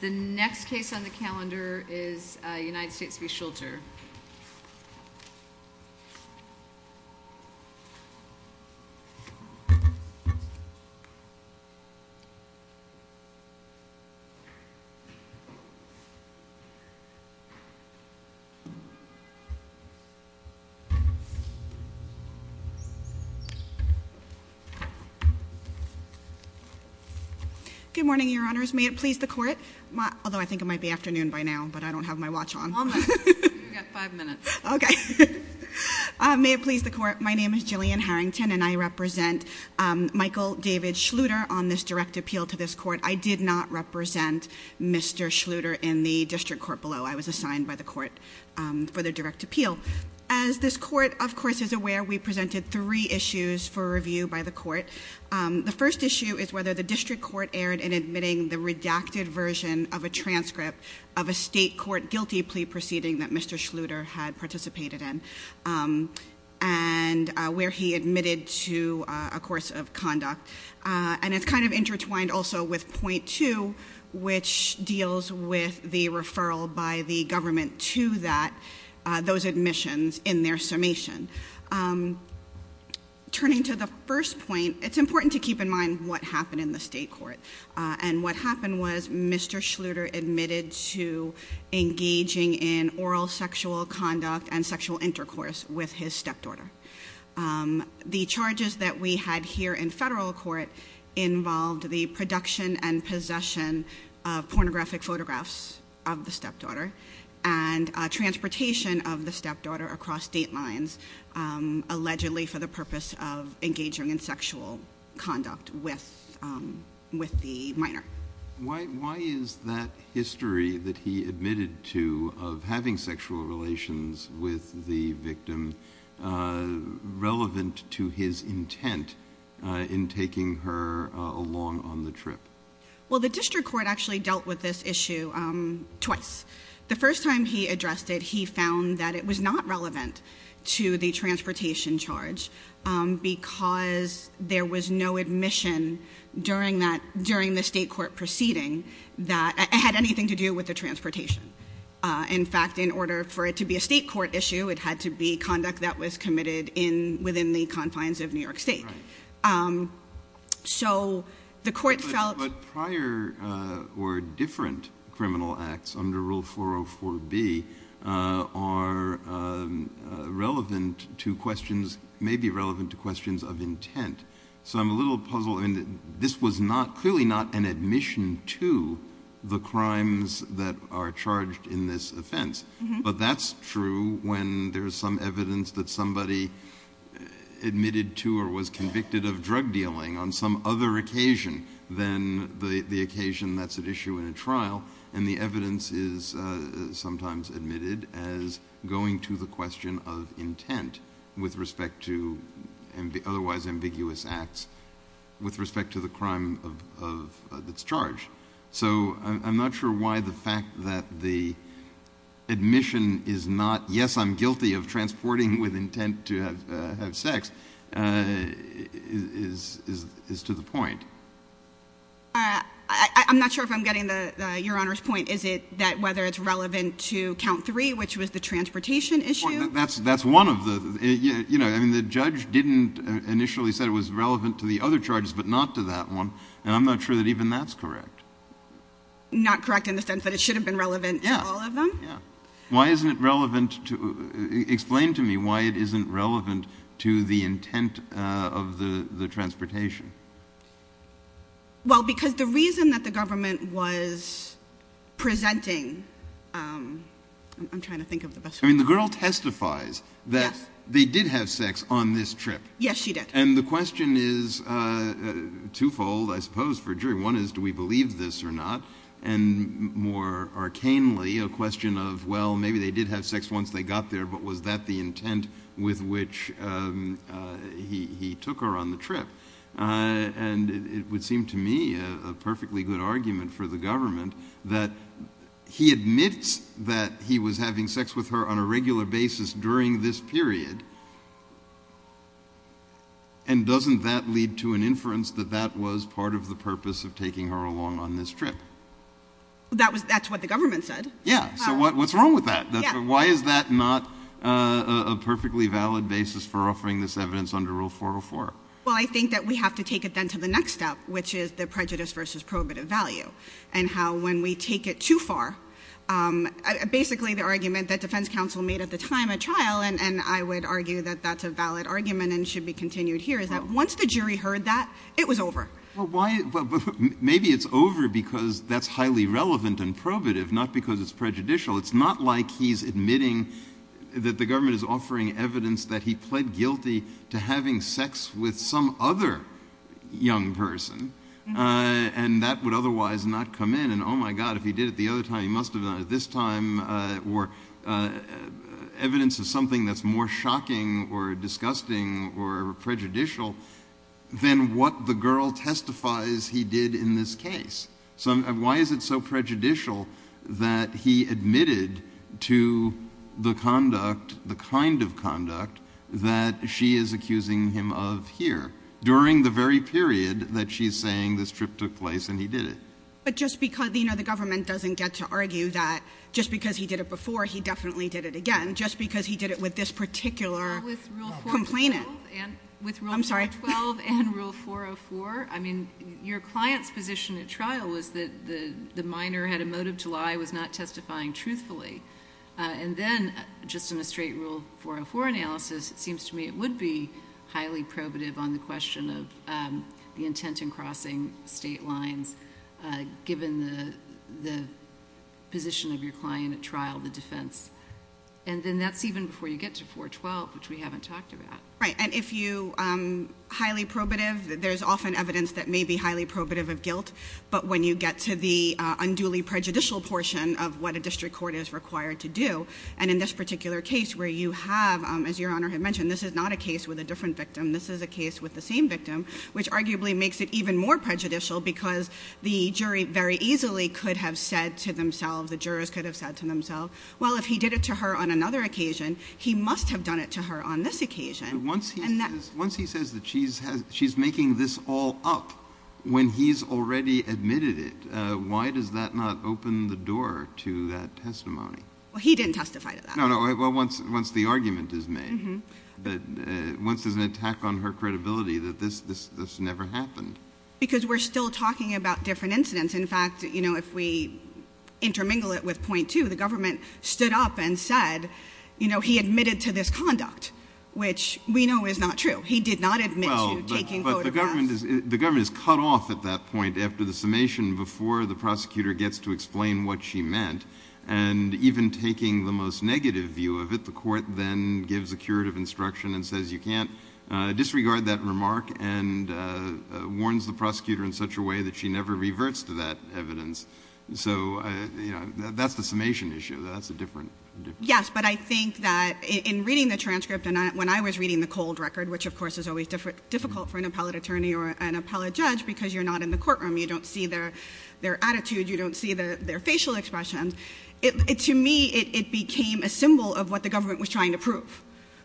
The next case on the calendar is United States v. Shulter. Good morning, your honors. May it please the court, although I think it might be afternoon by now, but I don't have my watch on. You've got five minutes. Okay. May it please the court. My name is Jillian Harrington and I represent Michael David Schluter on this direct appeal to this court. I did not represent Mr. Schluter in the district court below. I was assigned by the court for the direct appeal. As this court, of course, is aware, we presented three issues for review by the court. The first issue is whether the district court erred in admitting the redacted version of a transcript of a state court guilty plea proceeding that Mr. Schluter had participated in and where he admitted to a course of conduct. And it's kind of intertwined also with point two, which deals with the referral by the government to that, those admissions in their summation. Turning to the first point, it's important to keep in mind what happened in the state court. And what happened was Mr. Schluter admitted to engaging in oral sexual conduct and sexual intercourse with his stepdaughter. The charges that we had here in federal court involved the production and possession of pornographic photographs of the stepdaughter and transportation of the stepdaughter across state lines allegedly for the purpose of engaging in sexual conduct with the minor. Why is that history that he admitted to of having sexual relations with the victim relevant to his intent in taking her along on the trip? Well, the district court actually dealt with this issue twice. The first time he addressed it, he found that it was not relevant to the transportation charge because there was no admission during the state court proceeding that had anything to do with the transportation. In fact, in order for it to be a state court issue, it had to be conduct that was committed within the confines of New York State. So the court felt- under Rule 404B are relevant to questions- may be relevant to questions of intent. So I'm a little puzzled. This was clearly not an admission to the crimes that are charged in this offense. But that's true when there's some evidence that somebody admitted to or was convicted of drug dealing on some other occasion than the occasion that's at issue in a trial, and the evidence is sometimes admitted as going to the question of intent with respect to otherwise ambiguous acts with respect to the crime that's charged. So I'm not sure why the fact that the admission is not, yes, I'm guilty of transporting with intent to have sex, is to the point. I'm not sure if I'm getting Your Honor's point. Is it that whether it's relevant to count three, which was the transportation issue? That's one of the- I mean, the judge didn't initially say it was relevant to the other charges but not to that one, and I'm not sure that even that's correct. Not correct in the sense that it should have been relevant to all of them? Yeah. Why isn't it relevant to- explain to me why it isn't relevant to the intent of the transportation. Well, because the reason that the government was presenting- I'm trying to think of the best- I mean, the girl testifies that they did have sex on this trip. Yes, she did. One is, do we believe this or not? And more arcanely, a question of, well, maybe they did have sex once they got there, but was that the intent with which he took her on the trip? And it would seem to me a perfectly good argument for the government that he admits that he was having sex with her on a regular basis during this period, and doesn't that lead to an inference that that was part of the purpose of taking her along on this trip? That's what the government said. Yeah, so what's wrong with that? Why is that not a perfectly valid basis for offering this evidence under Rule 404? Well, I think that we have to take it then to the next step, which is the prejudice versus prohibitive value, and how when we take it too far, basically the argument that defense counsel made at the time at trial, and I would argue that that's a valid argument and should be continued here, is that once the jury heard that, it was over. Well, maybe it's over because that's highly relevant and probative, not because it's prejudicial. It's not like he's admitting that the government is offering evidence that he pled guilty to having sex with some other young person, and that would otherwise not come in, and, oh, my God, if he did it the other time, he must have done it this time, or evidence of something that's more shocking or disgusting or prejudicial than what the girl testifies he did in this case. So why is it so prejudicial that he admitted to the conduct, the kind of conduct that she is accusing him of here, during the very period that she's saying this trip took place and he did it? But just because, you know, the government doesn't get to argue that just because he did it before, he definitely did it again. Just because he did it with this particular complainant. With Rule 412 and Rule 404, I mean, your client's position at trial was that the minor had a motive to lie, was not testifying truthfully, and then just in a straight Rule 404 analysis, it seems to me it would be highly probative on the question of the intent in crossing state lines, given the position of your client at trial, the defense. And then that's even before you get to 412, which we haven't talked about. Right, and if you highly probative, there's often evidence that may be highly probative of guilt, but when you get to the unduly prejudicial portion of what a district court is required to do, and in this particular case where you have, as Your Honor had mentioned, this is not a case with a different victim. This is a case with the same victim, which arguably makes it even more prejudicial because the jury very easily could have said to themselves, the jurors could have said to themselves, well, if he did it to her on another occasion, he must have done it to her on this occasion. Once he says that she's making this all up when he's already admitted it, why does that not open the door to that testimony? Well, he didn't testify to that. No, no, well, once the argument is made, once there's an attack on her credibility, that this never happened. Because we're still talking about different incidents. In fact, you know, if we intermingle it with point two, the government stood up and said, you know, he admitted to this conduct, which we know is not true. He did not admit to taking photographs. Well, but the government is cut off at that point after the summation before the prosecutor gets to explain what she meant, and even taking the most negative view of it, the court then gives a curative instruction and says you can't disregard that remark and warns the prosecutor in such a way that she never reverts to that evidence. So, you know, that's the summation issue. That's a different issue. Yes, but I think that in reading the transcript and when I was reading the cold record, which of course is always difficult for an appellate attorney or an appellate judge because you're not in the courtroom, you don't see their attitude, you don't see their facial expressions, to me it became a symbol of what the government was trying to prove,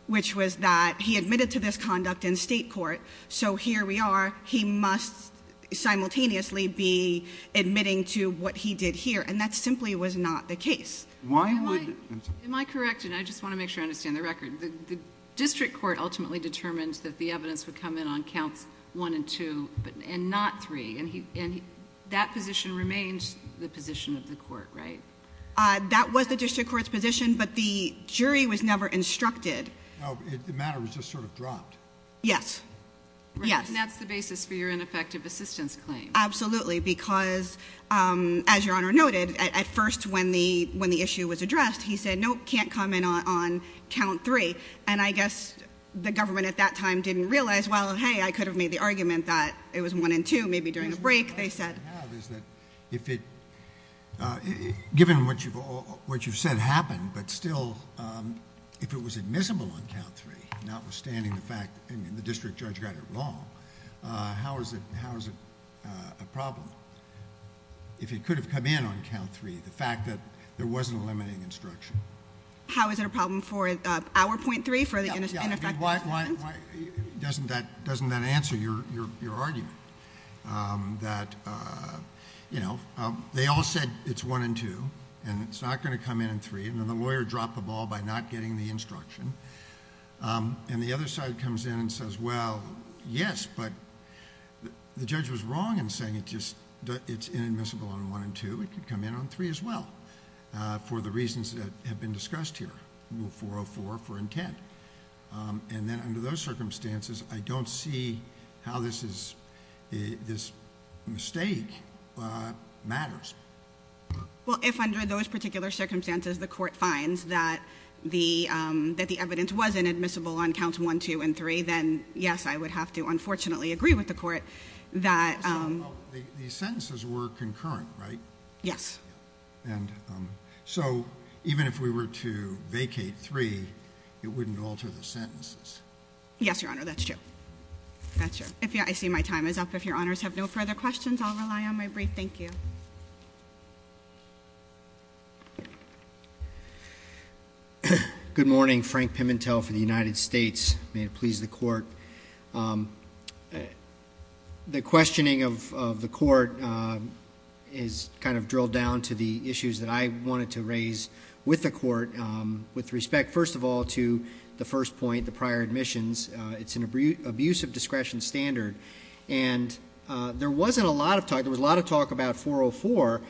which was that he admitted to this conduct in state court, so here we are, he must simultaneously be admitting to what he did here, and that simply was not the case. Am I correct, and I just want to make sure I understand the record, the district court ultimately determined that the evidence would come in on counts one and two and not three, and that position remains the position of the court, right? That was the district court's position, but the jury was never instructed. No, the matter was just sort of dropped. Yes, yes. And that's the basis for your ineffective assistance claim. Absolutely, because as Your Honor noted, at first when the issue was addressed, he said, no, it can't come in on count three, and I guess the government at that time didn't realize, well, hey, I could have made the argument that it was one and two, maybe during a break, they said. The question I have is that if it, given what you've said happened, but still if it was admissible on count three, notwithstanding the fact that the district judge got it wrong, how is it a problem if it could have come in on count three, the fact that there wasn't a limiting instruction? How is it a problem for our point three, for the ineffective assistance? Doesn't that answer your argument that, you know, they all said it's one and two, and it's not going to come in on three, and then the lawyer dropped the ball by not getting the instruction, and the other side comes in and says, well, yes, but the judge was wrong in saying it's inadmissible on one and two. It could come in on three as well for the reasons that have been discussed here, rule 404 for intent. And then under those circumstances, I don't see how this is, this mistake matters. Well, if under those particular circumstances the court finds that the evidence was inadmissible on counts one, two, and three, then yes, I would have to unfortunately agree with the court that. The sentences were concurrent, right? Yes. And so even if we were to vacate three, it wouldn't alter the sentences. Yes, Your Honor, that's true. That's true. I see my time is up. If Your Honors have no further questions, I'll rely on my brief. Thank you. Good morning. Frank Pimentel for the United States. May it please the court. The questioning of the court is kind of drilled down to the issues that I wanted to raise with the court with respect, first of all, to the first point, the prior admissions. It's an abuse of discretion standard. And there wasn't a lot of talk. There was a lot of talk about 404.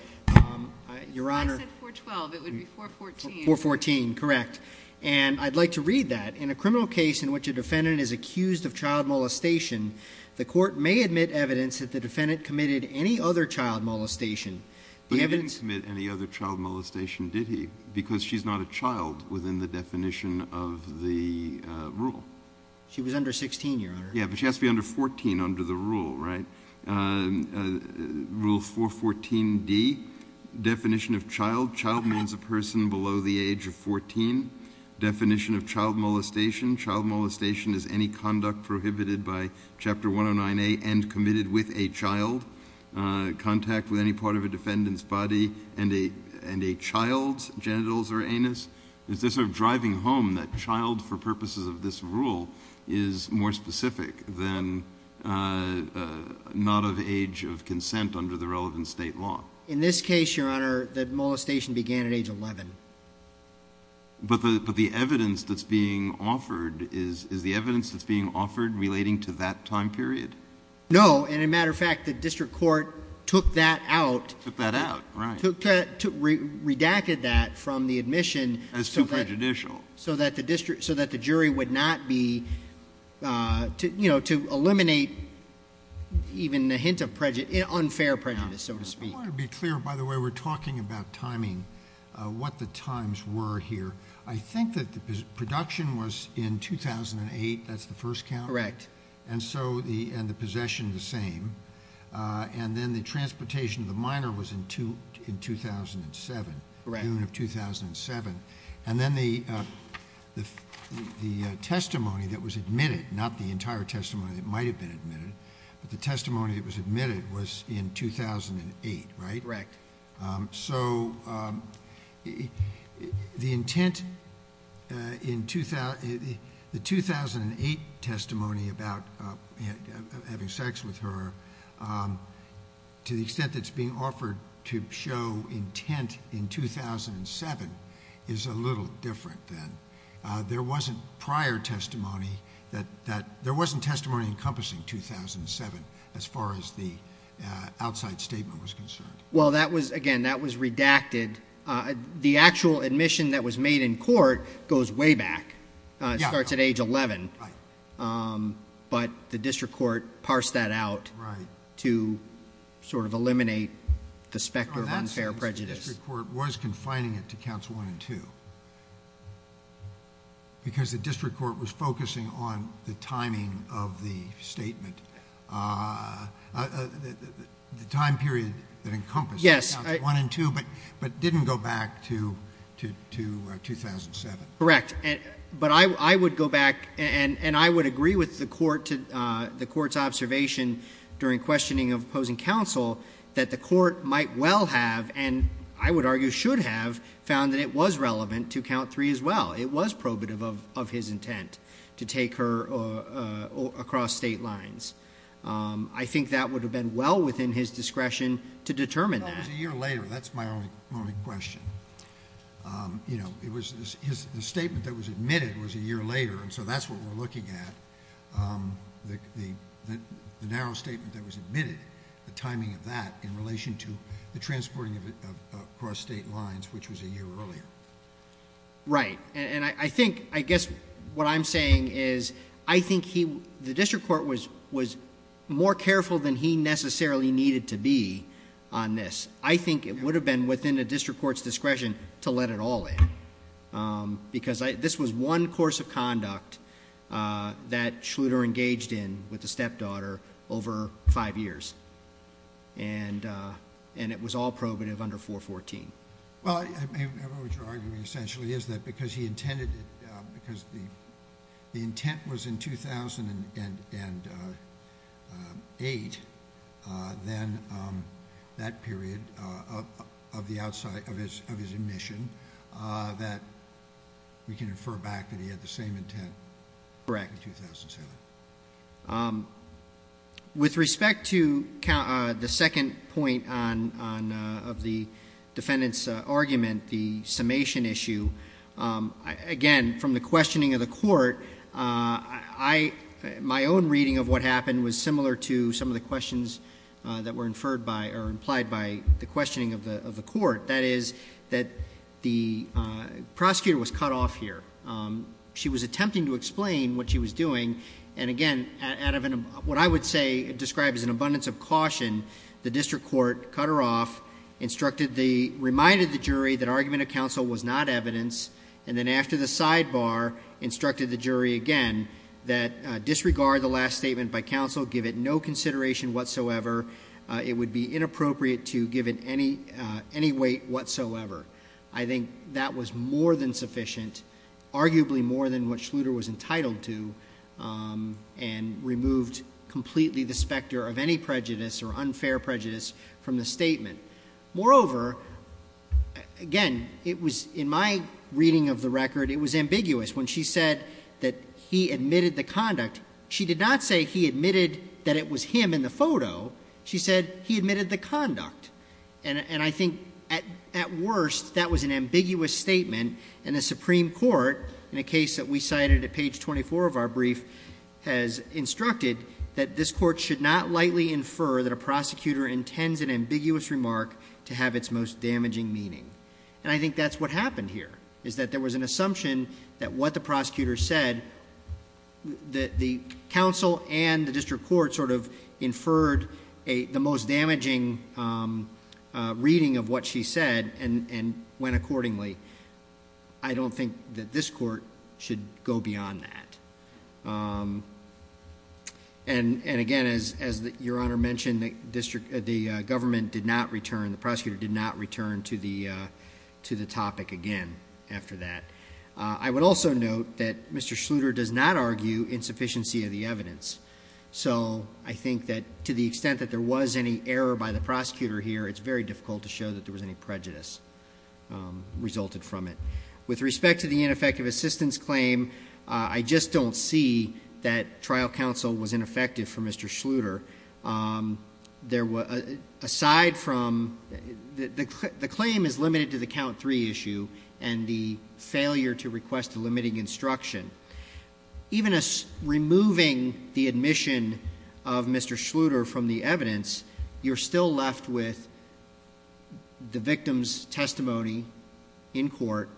Your Honor. I said 412. It would be 414. 414, correct. And I'd like to read that. In a criminal case in which a defendant is accused of child molestation, the court may admit evidence that the defendant committed any other child molestation. But he didn't commit any other child molestation, did he? Because she's not a child within the definition of the rule. She was under 16, Your Honor. Yeah, but she has to be under 14 under the rule, right? Rule 414D, definition of child. Child means a person below the age of 14. Definition of child molestation. Child molestation is any conduct prohibited by Chapter 109A and committed with a child. Contact with any part of a defendant's body and a child's genitals or anus. Is this sort of driving home that child for purposes of this rule is more specific than not of age of consent under the relevant state law? In this case, Your Honor, the molestation began at age 11. But the evidence that's being offered, is the evidence that's being offered relating to that time period? No, and as a matter of fact, the district court took that out. Took that out, right. Redacted that from the admission. That's too prejudicial. So that the jury would not be, to eliminate even a hint of unfair prejudice, so to speak. I want to be clear, by the way, we're talking about timing, what the times were here. I think that the production was in 2008, that's the first count. Correct. And so, and the possession the same. And then the transportation of the minor was in 2007. Correct. June of 2007. And then the testimony that was admitted, not the entire testimony that might have been admitted. But the testimony that was admitted was in 2008, right? Correct. So, the intent in the 2008 testimony about having sex with her, to the extent that's being offered to show intent in 2007, is a little different then. There wasn't prior testimony that, there wasn't testimony encompassing 2007, as far as the outside statement was concerned. Well, that was, again, that was redacted. The actual admission that was made in court goes way back. Yeah. It starts at age 11. Right. But the district court parsed that out. Right. To sort of eliminate the specter of unfair prejudice. The district court was confining it to counts one and two. Because the district court was focusing on the timing of the statement. The time period that encompassed counts one and two, but didn't go back to 2007. Correct. But I would go back, and I would agree with the court's observation during questioning of opposing counsel, that the court might well have, and I would argue should have, found that it was relevant to count three as well. It was probative of his intent to take her across state lines. I think that would have been well within his discretion to determine that. No, it was a year later. That's my only question. The statement that was admitted was a year later, and so that's what we're looking at. The narrow statement that was admitted, the timing of that in relation to the transporting of it across state lines, which was a year earlier. Right. I guess what I'm saying is I think the district court was more careful than he necessarily needed to be on this. I think it would have been within a district court's discretion to let it all in. Because this was one course of conduct that Schluter engaged in with the stepdaughter over five years, and it was all probative under 414. Well, what you're arguing essentially is that because he intended it, because the intent was in 2008, then that period of his admission, that we can infer back that he had the same intent in 2007. Correct. With respect to the second point of the defendant's argument, the summation issue, again, from the questioning of the court, my own reading of what happened was similar to some of the questions that were inferred by or implied by the questioning of the court, that is that the prosecutor was cut off here. She was attempting to explain what she was doing, and again, out of what I would describe as an abundance of caution, the district court cut her off, instructed the, reminded the jury that argument of counsel was not evidence, and then after the sidebar, instructed the jury again that disregard the last statement by counsel, give it no consideration whatsoever, it would be inappropriate to give it any weight whatsoever. I think that was more than sufficient, arguably more than what Schluter was entitled to, and removed completely the specter of any prejudice or unfair prejudice from the statement. Moreover, again, it was, in my reading of the record, it was ambiguous. When she said that he admitted the conduct, she did not say he admitted that it was him in the photo. She said he admitted the conduct, and I think at worst, that was an ambiguous statement, and the Supreme Court, in a case that we cited at page 24 of our brief, has instructed that this court should not lightly infer that a prosecutor intends an ambiguous remark to have its most damaging meaning, and I think that's what happened here, is that there was an assumption that what the prosecutor said, that the counsel and the district court sort of inferred the most damaging reading of what she said, and went accordingly. I don't think that this court should go beyond that. And again, as Your Honor mentioned, the government did not return, the prosecutor did not return to the topic again after that. I would also note that Mr. Schluter does not argue insufficiency of the evidence, so I think that to the extent that there was any error by the prosecutor here, it's very difficult to show that there was any prejudice resulted from it. With respect to the ineffective assistance claim, I just don't see that trial counsel was ineffective for Mr. Schluter. Aside from the claim is limited to the count three issue, and the failure to request a limiting instruction. Even as removing the admission of Mr. Schluter from the evidence, you're still left with the victim's testimony in court,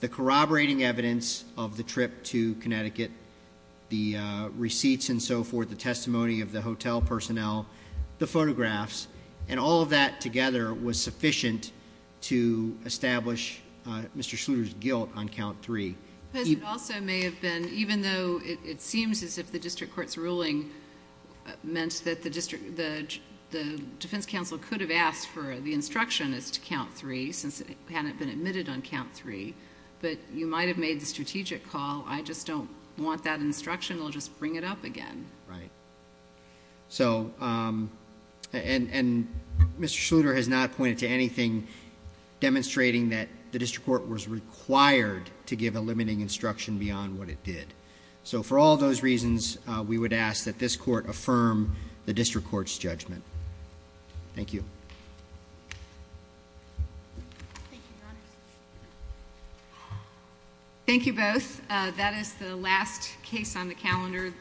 the corroborating evidence of the trip to Connecticut, the receipts and so forth, the testimony of the hotel personnel, the photographs, and all of that together was sufficient to establish Mr. Schluter's guilt on count three. It also may have been, even though it seems as if the district court's ruling meant that the defense counsel could have asked for the instruction as to count three, since it hadn't been admitted on count three, but you might have made the strategic call, I just don't want that instruction, I'll just bring it up again. Right. So, and Mr. Schluter has not pointed to anything demonstrating that the district court was required to give a limiting instruction beyond what it did. So for all those reasons, we would ask that this court affirm the district court's judgment. Thank you. Thank you both. That is the last case on the calendar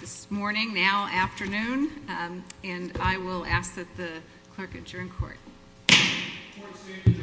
this morning, now afternoon, and I will ask that the clerk adjourn court. Court is adjourned.